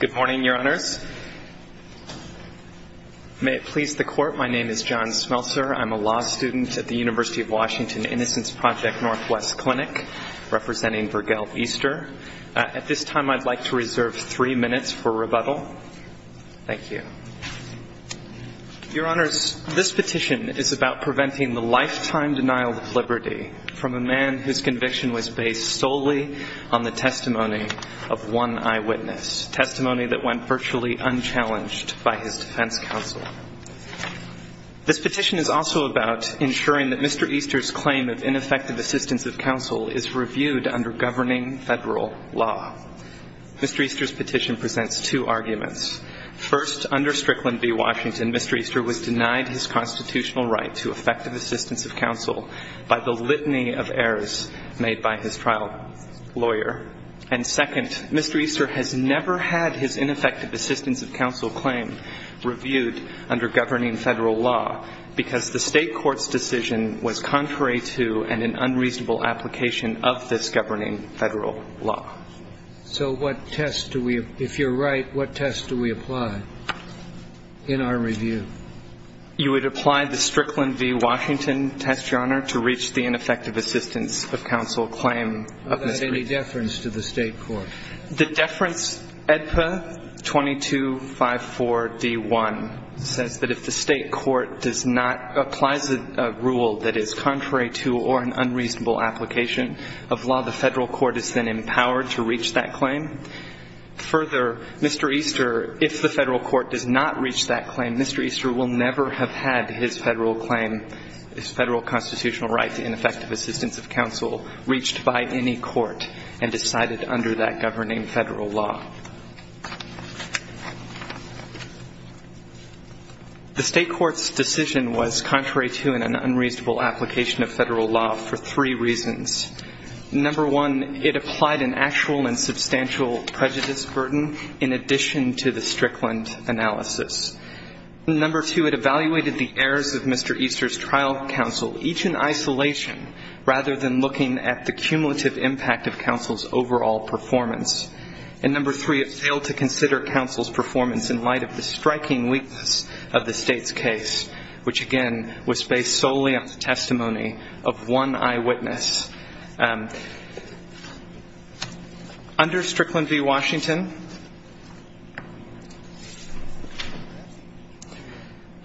Good morning, Your Honors. May it please the Court, my name is John Smeltzer. I'm a law student at the University of Washington Innocence Project Northwest Clinic, representing Burgell Easter. At this time I'd like to reserve three minutes for rebuttal. Thank you. Your Honors, this petition is about preventing the lifetime denial of liberty from a man whose conviction was based solely on the testimony of one eyewitness, testimony that went virtually unchallenged by his defense counsel. This petition is also about ensuring that Mr. Easter's claim of ineffective assistance of counsel is reviewed under governing federal law. Mr. Easter's petition presents two arguments. First, under Strickland v. Washington, Mr. Easter was denied his constitutional right to effective assistance of counsel by the litany of errors made by his trial lawyer. And second, Mr. Easter has never had his ineffective assistance of counsel claim reviewed under governing federal law because the state court's decision was contrary to and an unreasonable application of this governing federal law. So what test do we, if you're right, what test do we apply in our review? You would apply the Strickland v. Washington test, Your Honor, to reach the ineffective assistance of counsel claim of Mr. Easter. Of that any deference to the state court? The deference, AEDPA 2254D1, says that if the state court does not, applies a rule that is contrary to or an unreasonable application of law, the federal court is then empowered to reach that claim. Further, Mr. Easter, if the federal court does not reach that claim, Mr. Easter will never have had his federal claim, his federal constitutional right to ineffective assistance of counsel, reached by any court and decided under that governing federal law. The state court's decision was contrary to and an unreasonable application of federal law for three reasons. Number one, it applied an actual and substantial prejudice burden in addition to the Strickland analysis. Number two, it evaluated the errors of Mr. Easter's trial counsel, each in isolation, rather than looking at the cumulative impact of counsel's overall performance. And number three, it failed to consider counsel's performance in light of the striking weakness of the state's case, which, again, was based solely on the testimony of one eyewitness. Under Strickland v. Washington,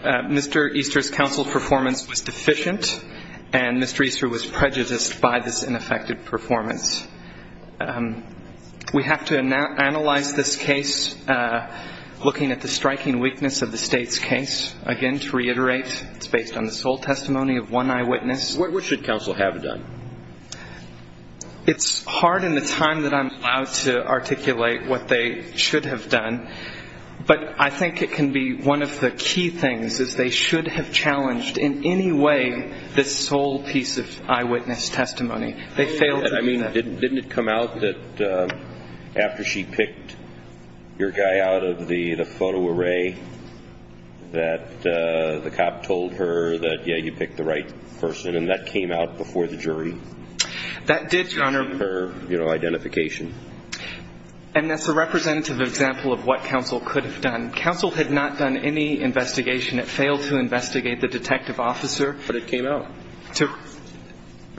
Mr. Easter's counsel's performance was considered deficient and Mr. Easter was prejudiced by this ineffective performance. We have to analyze this case, looking at the striking weakness of the state's case. Again, to reiterate, it's based on the sole testimony of one eyewitness. What should counsel have done? It's hard in the time that I'm allowed to articulate what they should have done, but I think it can be one of the key things, is they should have challenged in any way this sole piece of eyewitness testimony. They failed to do that. I mean, didn't it come out that after she picked your guy out of the photo array, that the cop told her that, yeah, you picked the right person, and that came out before the jury? That did, Your Honor. To keep her, you know, identification. And that's a representative example of what counsel could have done. Counsel had not done any investigation. It failed to investigate the detective officer. But it came out.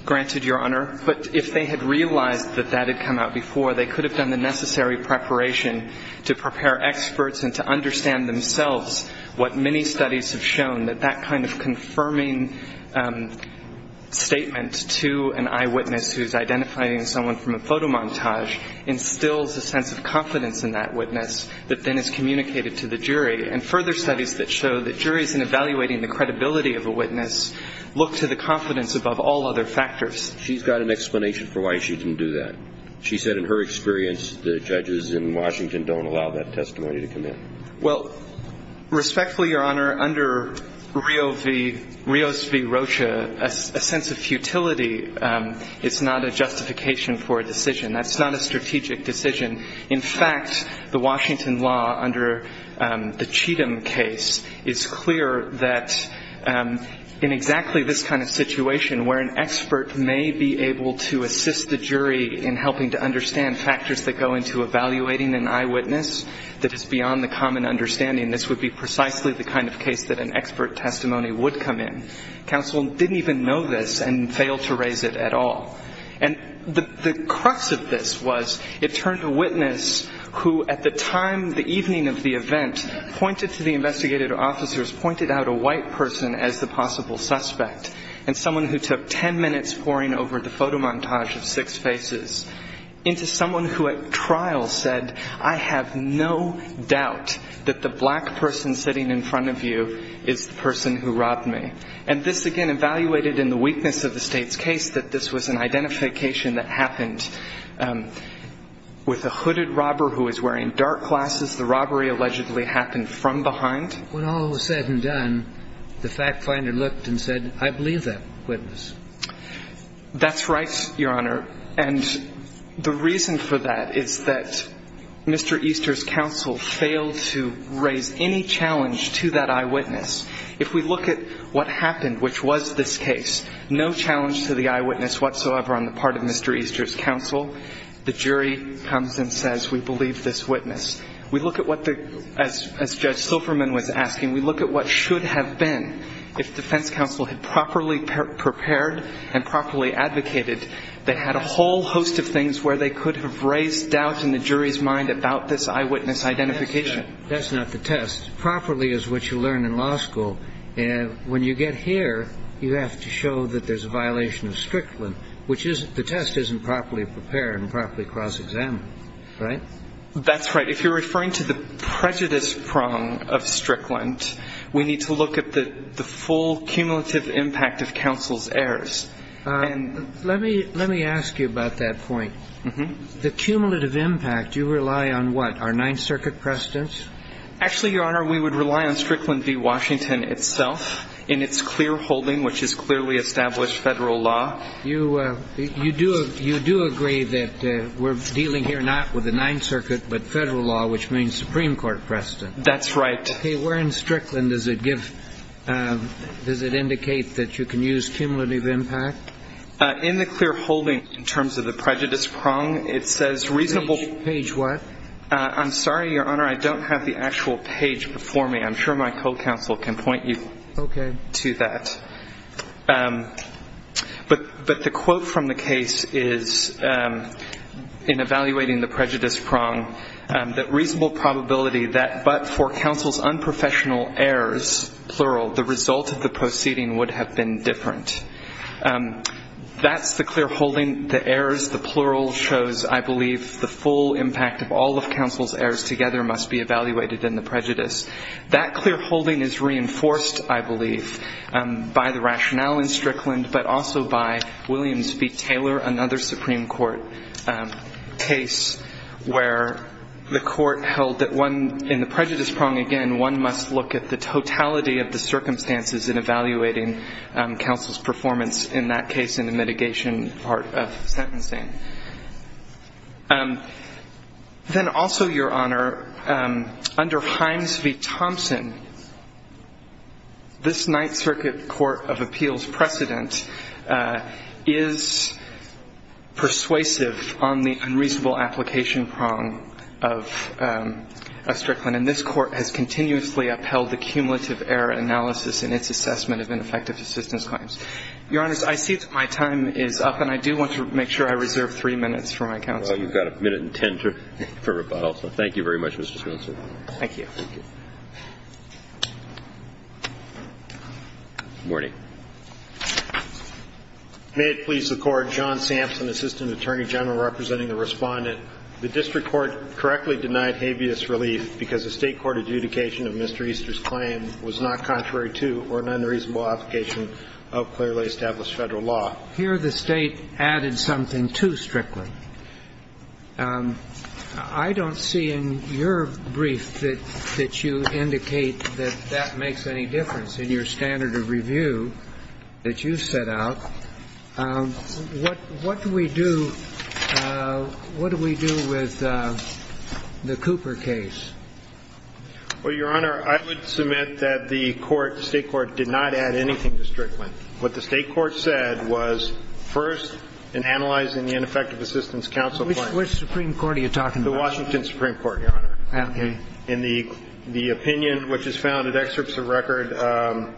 Granted, Your Honor. But if they had realized that that had come out before, they could have done the necessary preparation to prepare experts and to understand themselves what many studies have shown, that that kind of confirming statement to an eyewitness who's identifying someone from a photomontage instills a sense of confidence in that witness that then is communicated to the jury. And further studies that show that juries, in evaluating the credibility of a witness, look to the confidence above all other factors. She's got an explanation for why she didn't do that. She said in her experience the judges in Washington don't allow that testimony to come in. Well, respectfully, Your Honor, under Rios v. Rocha, a sense of futility is found in that that's not a justification for a decision. That's not a strategic decision. In fact, the Washington law under the Cheatham case is clear that in exactly this kind of situation, where an expert may be able to assist the jury in helping to understand factors that go into evaluating an eyewitness that is beyond the common understanding, this would be precisely the kind of case that an expert testimony would come in. Counsel didn't even know this and failed to raise it at all. And the crux of this was it turned a witness who, at the time, the evening of the event, pointed to the investigative officers, pointed out a white person as the possible suspect and someone who took ten minutes poring over the photomontage of six faces into someone who at trial said, I have no doubt that the black person sitting in front of you is the person who robbed me. And this, again, evaluated in the weakness of the State's case that this was an identification that happened with a hooded robber who was wearing dark glasses. The robbery allegedly happened from behind. When all was said and done, the fact finder looked and said, I believe that eyewitness. That's right, Your Honor. And the reason for that is that Mr. Easter's counsel failed to raise any challenge to that eyewitness. If we look at what happened, which was this case, no challenge to the eyewitness whatsoever on the part of Mr. Easter's counsel. The jury comes and says, we believe this witness. We look at what the, as Judge Silverman was asking, we look at what should have been if defense counsel had properly prepared and properly advocated that had a whole host of things where they could have raised doubts in the jury's mind about this eyewitness identification. That's not the test. Properly is what you learn in law school. When you get here, you have to show that there's a violation of Strickland, which the test isn't properly prepared and properly cross-examined. Right? That's right. If you're referring to the prejudice prong of Strickland, we need to look at the full cumulative impact of counsel's errors. Let me ask you about that point. The cumulative impact, you rely on what? Our Ninth Circuit precedents? Actually, Your Honor, we would rely on Strickland v. Washington itself in its clear holding, which is clearly established federal law. You do agree that we're dealing here not with the Ninth Circuit, but federal law, which means Supreme Court precedents. That's right. Where in Strickland does it indicate that you can use cumulative impact? In the clear holding, in terms of the prejudice prong, it says reasonable Page what? I'm sorry, Your Honor, I don't have the actual page before me. I'm sure my co-counsel can point you to that. Okay. But the quote from the case is, in evaluating the prejudice prong, that reasonable probability that but for counsel's unprofessional errors, plural, the result of the proceeding would have been different. That's the clear holding. The errors, the plural shows, I believe, the full impact of all of counsel's errors together must be evaluated in the prejudice. That clear holding is reinforced, I believe, by the rationale in Strickland, but also by Williams v. Taylor, another Supreme Court case, where the court held that in the prejudice prong, again, one must look at the totality of the circumstances in evaluating counsel's performance. In that case, in the mitigation part of sentencing. Then also, Your Honor, under Himes v. Thompson, this Ninth Circuit Court of Appeals precedent is persuasive on the unreasonable application prong of Strickland. And this court has continuously upheld the cumulative error analysis in its assessment of ineffective assistance claims. Your Honors, I see that my time is up, and I do want to make sure I reserve three minutes for my counsel. Well, you've got a minute and ten for rebuttal, so thank you very much, Mr. Counselor. Thank you. Thank you. Morning. May it please the Court, John Sampson, Assistant Attorney General, representing the Respondent. The district court correctly denied habeas relief because the state court adjudication of Mr. Easter's claim was not contrary to or an unreasonable application of clearly established Federal law. Here the state added something to Strickland. I don't see in your brief that you indicate that that makes any difference in your standard of review that you set out. What do we do with the Cooper case? Well, Your Honor, I would submit that the state court did not add anything to Strickland. What the state court said was, first, in analyzing the ineffective assistance counsel claim Which Supreme Court are you talking about? The Washington Supreme Court, Your Honor. Okay. In the opinion which is found in excerpts of record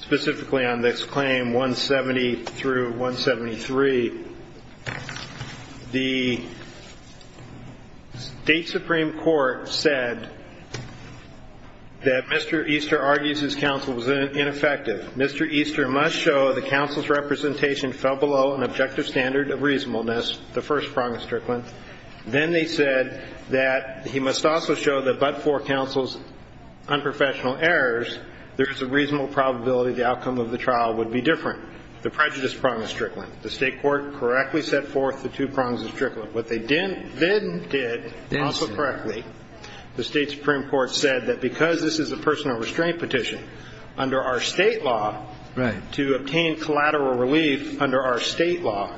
specifically on this claim, 170 through 173, the state Supreme Court said that Mr. Easter argues his counsel was ineffective. Mr. Easter must show the counsel's representation fell below an objective standard of reasonableness, the first prong of Strickland. Then they said that he must also show that but for counsel's unprofessional errors, there is a reasonable probability the outcome of the trial would be different, the prejudice prong of Strickland. The state court correctly set forth the two prongs of Strickland. What they then did, also correctly, the state Supreme Court said that because this is a personal restraint petition, under our state law, to obtain collateral relief under our state law,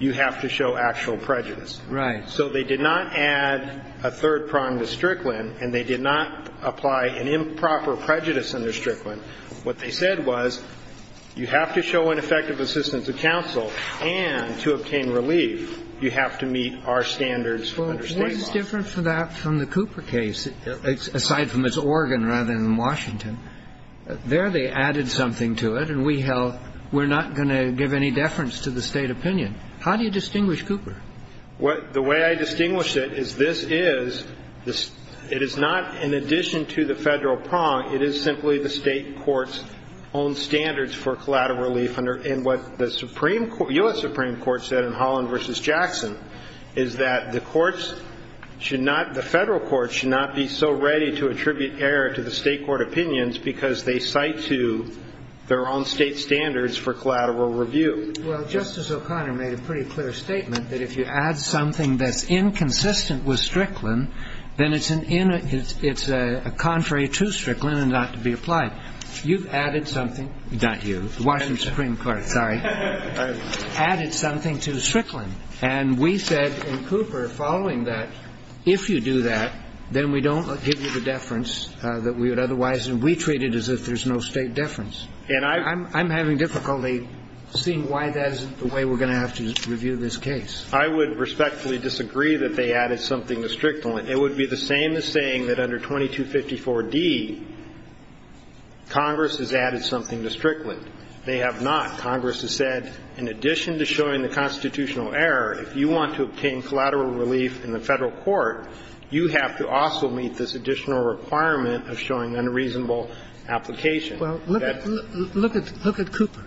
you have to show actual prejudice. So they did not add a third prong to Strickland and they did not apply an improper prejudice under Strickland. What they said was, you have to show ineffective assistance to counsel and to obtain relief, you have to meet our standards under state law. Well, what is different for that from the Cooper case, aside from it's Oregon rather than Washington? There they added something to it and we held we're not going to give any deference to the state opinion. How do you distinguish Cooper? The way I distinguish it is this is, it is not in addition to the federal prong, it is simply the state court's own standards for collateral relief and what the U.S. Supreme Court said in Holland v. Jackson is that the courts should not, the federal courts should not be so ready to attribute error to the state court opinions because they cite to their own state standards for collateral review. Well, Justice O'Connor made a pretty clear statement that if you add something that's inconsistent with Strickland, then it's a contrary to Strickland and not to be applied. You've added something, not you, the Washington Supreme Court, sorry, added something to Strickland and we said in Cooper following that, if you do that, then we don't give you the deference that we would otherwise and we treat it as if there's no state deference. And I'm having difficulty seeing why that isn't the way we're going to have to review this case. I would respectfully disagree that they added something to Strickland. It would be the same as saying that under 2254d, Congress has added something to Strickland. They have not. Congress has said, in addition to showing the constitutional error, if you want to obtain collateral relief in the federal court, you have to also meet this additional requirement of showing unreasonable application. Well, look at Cooper.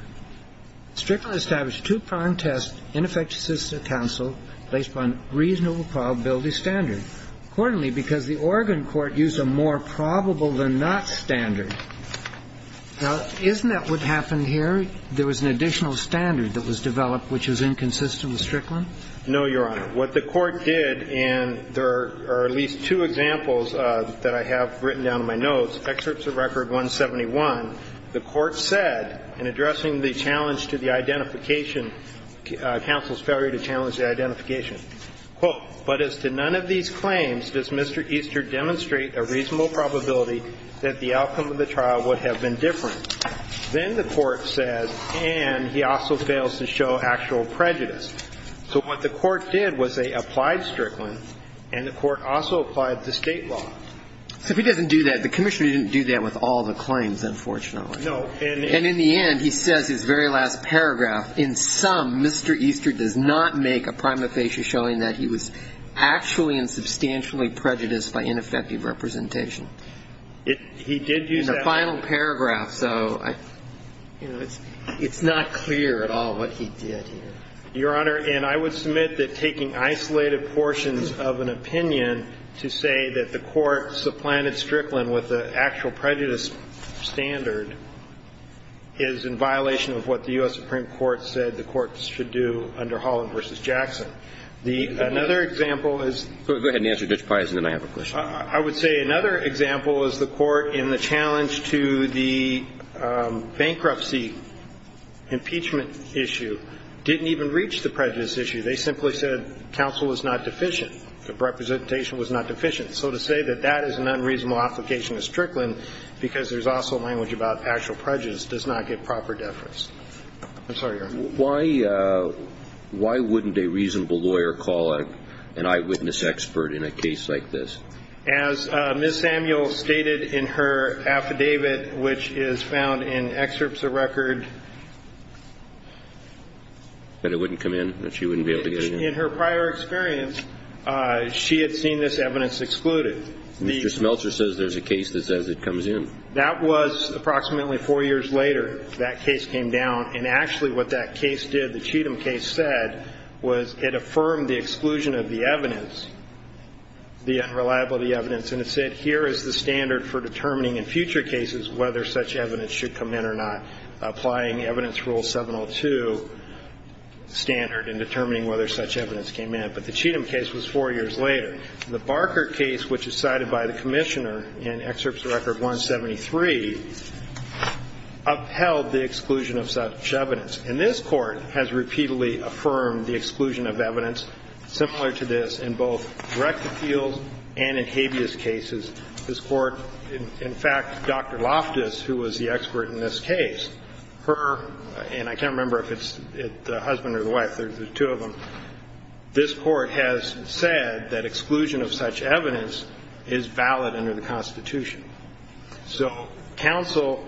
Strickland established two-pronged tests in effective citizenship counsel based upon reasonable probability standards. Accordingly, because the Oregon court used a more probable-than-not standard. Now, isn't that what happened here? There was an additional standard that was developed which was inconsistent with Strickland? No, Your Honor. What the court did, and there are at least two examples that I have written down in my notes, excerpts of Record 171, the court said, in addressing the challenge to the identification, counsel's failure to challenge the identification, quote, but as to none of these claims, does Mr. Easter demonstrate a reasonable probability that the outcome of the trial would have been different? Then the court says, and he also fails to show actual prejudice. So what the court did was they applied Strickland and the court also applied the state law. So if he doesn't do that, the commissioner didn't do that with all the claims, unfortunately. No. And in the end, he says his very last paragraph, in sum, Mr. Easter does not make a prima facie showing that he was actually and substantially prejudiced by ineffective representation. He did use that one. In the final paragraph, so it's not clear at all what he did here. Your Honor, and I would submit that taking isolated portions of an opinion to say that the court supplanted Strickland with an actual prejudice standard is in violation of what the U.S. Supreme Court said that the courts should do under Holland v. Jackson. Another example is Go ahead and answer Judge Peisen and then I have a question. I would say another example is the court in the challenge to the bankruptcy impeachment issue didn't even reach the prejudice issue. They simply said counsel was not deficient. The representation was not deficient. So to say that that is an unreasonable application because there's also language about actual prejudice does not give proper deference. I'm sorry, Your Honor. Why wouldn't a reasonable lawyer call an eyewitness expert in a case like this? As Ms. Samuel stated in her affidavit which is found in excerpts of record That it wouldn't come in? That she wouldn't be able to get in? In her prior experience, she had seen this evidence excluded. Mr. Smeltzer says there's a case that says it comes in. That was approximately four years later that case came down and actually what that case did the Cheatham case said was it affirmed the exclusion of the evidence the unreliability evidence and it said here is the standard for determining in future cases whether such evidence should come in or not applying evidence rule 702 standard in determining whether such evidence came in. But the Cheatham case was four years later. The Barker case which is cited by the Commissioner in excerpts of record 173 upheld the exclusion of such evidence and this court has repeatedly affirmed the exclusion of evidence similar to this in both direct appeals and in habeas cases. This court in fact Dr. Loftus who was the expert in this case her and I can't remember if it's the husband or the wife there's two of them this court has said that exclusion of such evidence is valid under the Constitution. So counsel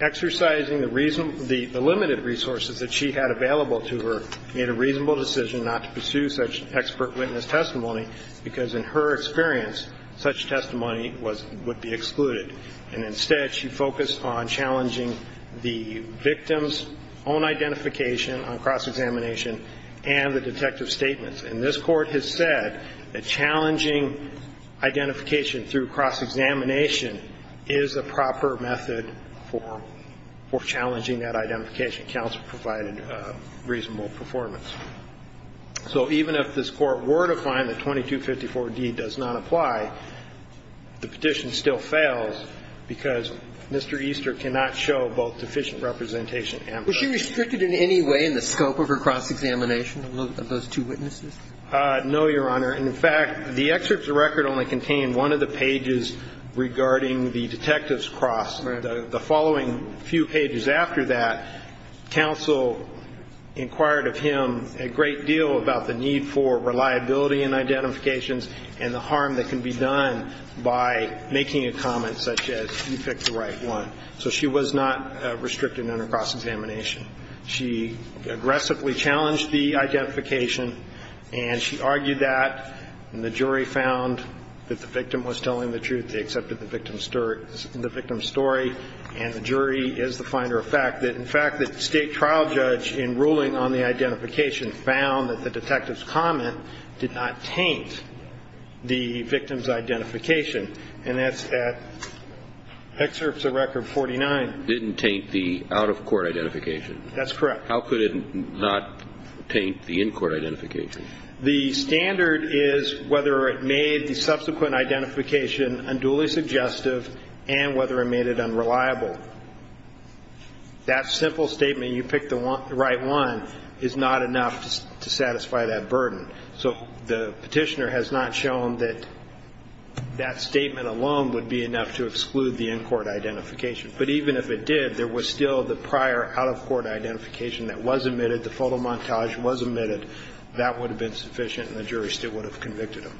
exercising the limited resources that she had available to her made a reasonable decision not to pursue such expert witness testimony because in her experience such testimony would be excluded and instead she focused on challenging the victim's own identification on cross-examination and the detective statements and this court has said that challenging identification through cross-examination is a proper method for challenging that identification counsel provided reasonable performance. So even if this court were to find that 2254d does not apply the petition still fails because Mr. Easter cannot show both deficient representation and proof. Was she restricted in any way in the scope of her cross-examination of those two witnesses? No, Your Honor. In fact, the excerpt of the record only contained one of the pages regarding the detective's cross the following few pages after that counsel inquired of him a great deal about the need for reliability in identifications and the harm that can be done by making a comment such as you picked the right one. So she was not restricted in her cross-examination. She aggressively challenged the identification and she argued that the jury found that the victim was telling the truth they accepted the victim's story and the jury is the finder of fact that in fact the state trial judge in ruling on the identification found that the detective's comment did not taint the victim's identification and that's excerpt of record 49 Didn't taint the out-of-court identification? That's correct. How could it not taint the in-court identification? The standard is whether it made the subsequent identification unduly suggestive and whether it made it unreliable. That simple statement you picked the right one is not enough to satisfy that burden. So the petitioner has not shown that that statement alone would be enough to exclude the in-court identification but even if it did, there was still the prior out-of-court identification that was admitted, the photo montage was admitted, that would have been sufficient and the jury still would have convicted him.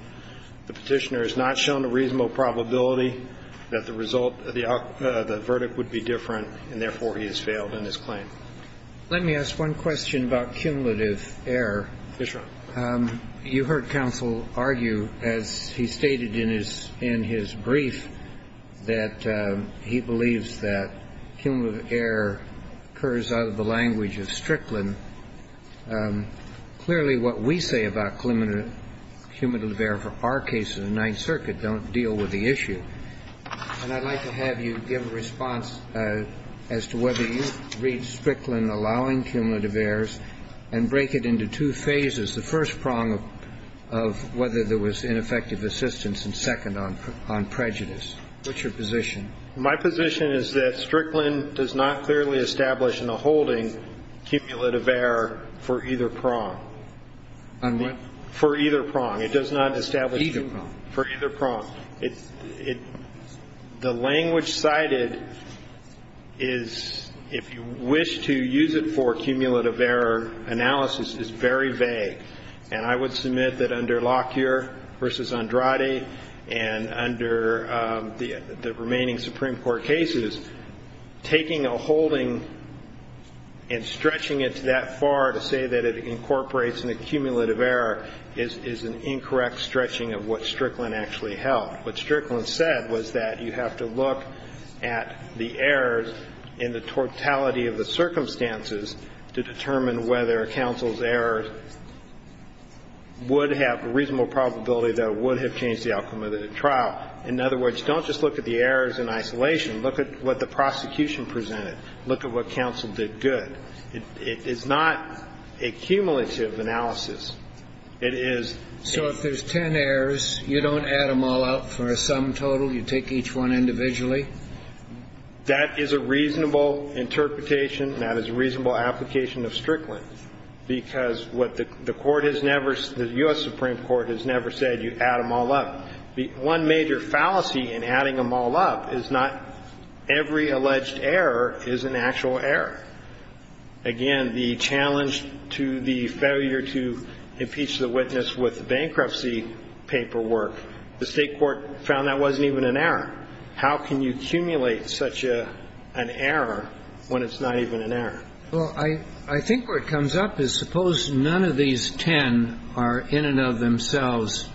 The petitioner has not shown a reasonable probability that the result the verdict would be different and therefore he has failed in his claim. Let me ask one question about cumulative error. You heard counsel argue as he stated in his brief that he believes that cumulative error occurs out of the language of Strickland. Clearly what we say about cumulative error for our case in the Ninth Circuit don't deal with the issue. And I'd like to have you give a response as to whether you read Strickland allowing cumulative errors and break it into two phases. The first prong of whether there was ineffective assistance and second on prejudice. What's your position? My position is that Strickland does not clearly establish in the holding cumulative error for either prong. On what? For either prong. For either prong. The language cited is if you wish to use it for cumulative error analysis is very vague and I would submit that under Lockyer versus Andrade and under the remaining Supreme Court cases taking a holding and stretching it that far to say that it incorporates an accumulative error is an incorrect stretching of what Strickland actually held. What Strickland said was that you have to look at the errors in the totality of the circumstances to determine whether counsel's errors would have a reasonable probability that it would have changed the outcome of the trial. In other words, don't just look at the errors in isolation. Look at what the prosecution presented. Look at what counsel did good. It's not a cumulative analysis. It is. So if there's 10 errors, you don't add them all up for a sum total? You take each one individually? That is a reasonable interpretation and that is a reasonable application of Strickland. Because what the court has never said, the U.S. Supreme Court has never said you add them all up. One major fallacy in adding them all up is not every alleged error is an actual error. Again, the challenge to the failure to impeach the witness with bankruptcy paperwork, the state court found that wasn't even an error. How can you accumulate such an error when it's not even an error? Well, I think where it comes up is suppose none of these 10 are in and of themselves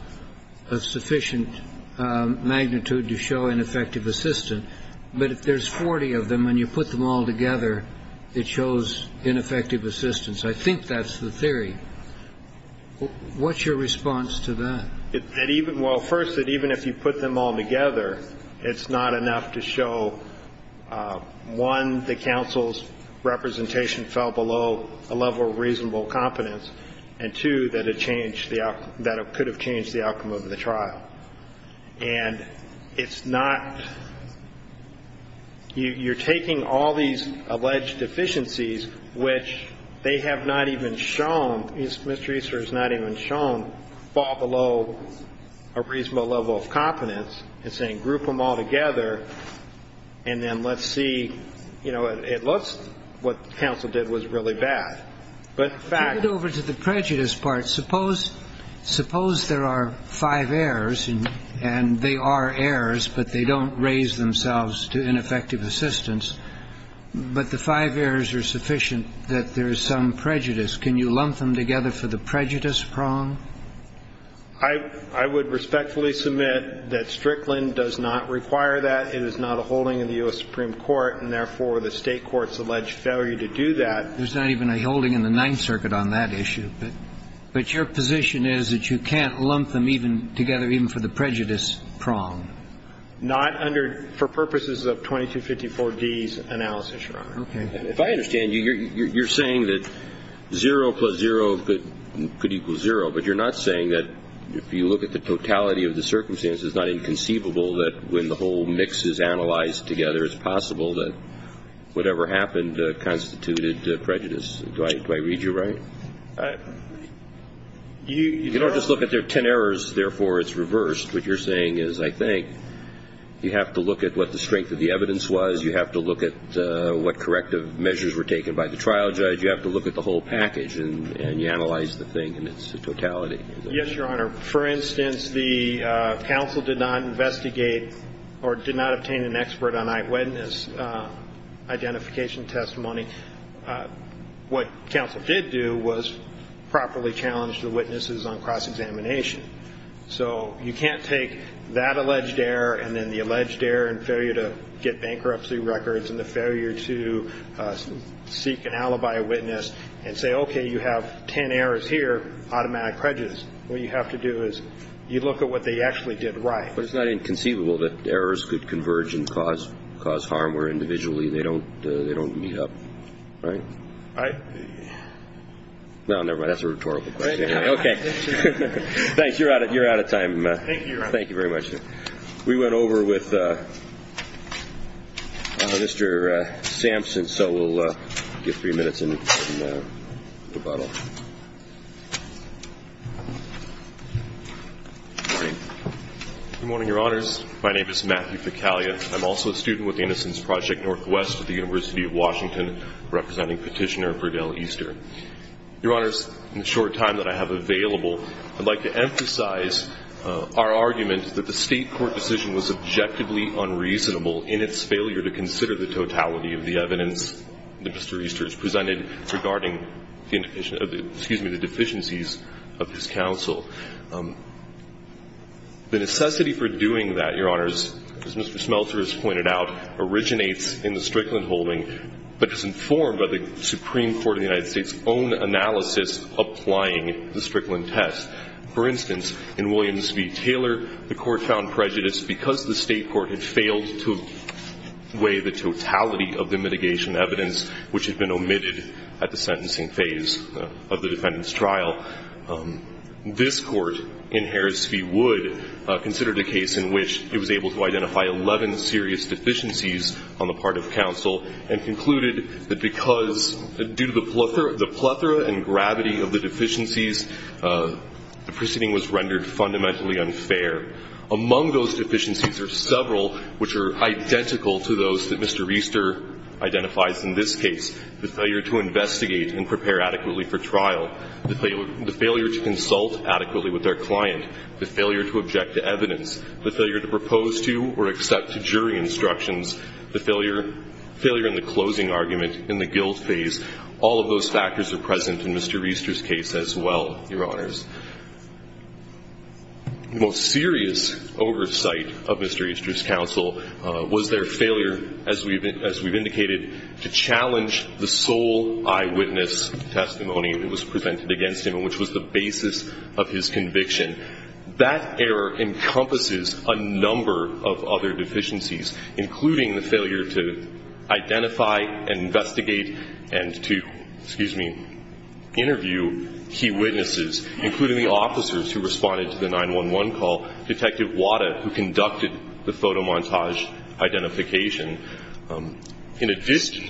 of sufficient magnitude to show ineffective assistance, but if there's 40 of them and you put them all together, it shows ineffective assistance. I think that's the theory. What's your response to that? Well, first, that even if you put them all together, it's not enough to show one, the counsel's representation fell below a level of reasonable competence, and two, that it could have changed the outcome of the trial. And it's not you're taking all these alleged deficiencies, which they have not even shown, Mr. Easter has not even shown, fall below a reasonable level of competence and saying group them all together and then let's see. You know, it looks what counsel did was really bad, but in fact... Take it over to the prejudice part. Suppose there are five errors and they are errors, but they don't raise themselves to ineffective assistance, but the five errors are sufficient that there is some prejudice. Can you lump them together for the prejudice prong? I would respectfully submit that Strickland does not require that. It is not a holding in the U.S. Supreme Court, and therefore the State courts allege failure to do that. There's not even a holding in the Ninth Circuit on that issue. But your position is that you can't lump them even together even for the prejudice prong? Not under, for purposes of 2254D's analysis, Your Honor. Okay. If I understand you, you're saying that 0 plus 0 could equal 0, but you're not saying that if you look at the totality of the circumstances, it's not inconceivable that when the whole mix is analyzed together, it's possible that whatever happened constituted prejudice. Do I read you right? You don't just look at there are ten errors, therefore it's reversed. What you're saying is, I think, you have to look at what the strength of the evidence was. You have to look at what corrective measures were taken by the trial judge. You have to look at the whole package and you analyze the thing and its totality. Yes, Your Honor. For instance, the counsel did not investigate or did not obtain an expert on eyewitness identification testimony. What counsel did do was properly challenge the witnesses on cross-examination. You can't take that alleged error and then the alleged error and failure to get bankruptcy records and the failure to seek an alibi witness and say, okay, you have ten errors here, automatic prejudice. What you have to do is you look at what they actually did right. But it's not inconceivable that errors could converge and cause harm where individually they don't meet up, right? I... No, never mind. That's a rhetorical question. Thanks. You're out of time. Thank you, Your Honor. Thank you very much. We went over with Mr. Sampson, so we'll give three minutes in rebuttal. Good morning, Your Honors. My name is Matthew Picaglia. I'm also a student with the Innocence Project Northwest at the University of Washington, representing Petitioner Verdell Easter. Your Honors, in the short time that I have available, I'd like to emphasize our argument that the State court decision was objectively unreasonable in its failure to consider the totality of the evidence that Mr. Easter has presented regarding the deficiencies of his counsel. The necessity for doing that, Your Honors, as Mr. Smeltzer has pointed out, originates in the Strickland holding but is informed by the Supreme Court of the United States' own analysis applying the Strickland test. For instance, in Williams v. Taylor, the Court found prejudice because the State court had failed to weigh the totality of the mitigation evidence which had been omitted at the sentencing phase of the defendant's trial. This Court in Harris v. Wood considered a case in which it was able to identify 11 serious deficiencies on the part of counsel and concluded that because, due to the plethora and gravity of the deficiencies, the proceeding was rendered fundamentally unfair. Among those deficiencies are several which are identical to those that Mr. Easter identifies in this case. The failure to investigate and prepare adequately for trial. The failure to consult adequately with their client. The failure to object to evidence. The failure to propose to or accept to jury instructions. The failure in the closing argument in the guilt phase. All of those factors are present in Mr. Easter's case as well, Your Honors. The most serious oversight of Mr. Easter's counsel was their failure, as we've indicated, to challenge the sole eyewitness testimony that was presented against him and which was the basis of his conviction. That error encompasses a number of other deficiencies, including the failure to identify and investigate and to, excuse me, interview key witnesses, including the officers who responded to the 911 call, Detective Wada, who conducted the photomontage identification. In addition,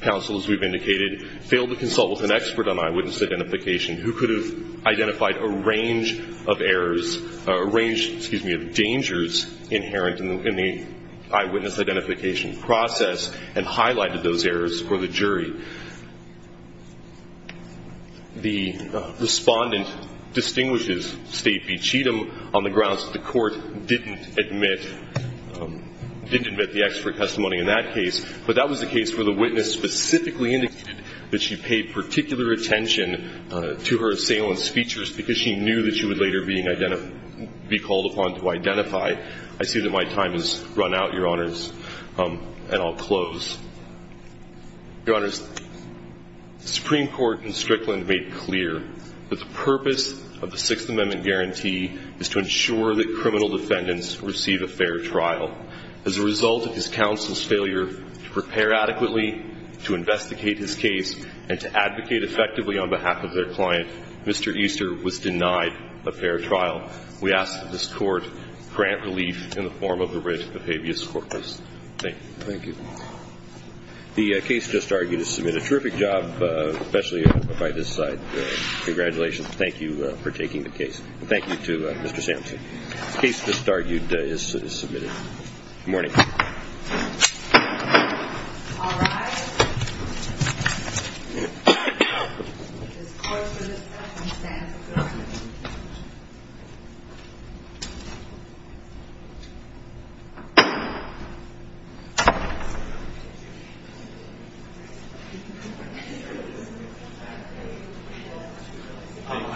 counsel, as we've indicated, failed to consult with an expert on eyewitness identification who could have identified a range of errors, a range, excuse me, of dangers inherent in the eyewitness identification process and highlighted those errors for the jury. The respondent distinguishes State v. Cheatham on the grounds that the Court didn't admit the expert testimony in that case, but that was the case where the witness specifically indicated that she paid particular attention to her assailant's features because she knew that she would later be called upon to identify. I see that my time has run out, Your Honors, and I'll close. Your Honors, the Supreme Court in Strickland made clear that the purpose of the Sixth Amendment guarantee is to ensure that criminal defendants receive a fair trial. As a result of his counsel's failure to prepare adequately to investigate his case and to advocate effectively on behalf of their client, Mr. Easter was denied a fair trial. We ask that this Court grant relief in the form of the writ of habeas corpus. Thank you. The case just argued has done a terrific job, especially by this side. Congratulations, and thank you for taking the case. Thank you to Mr. Sampson. The case just argued is submitted. Good morning. Good morning.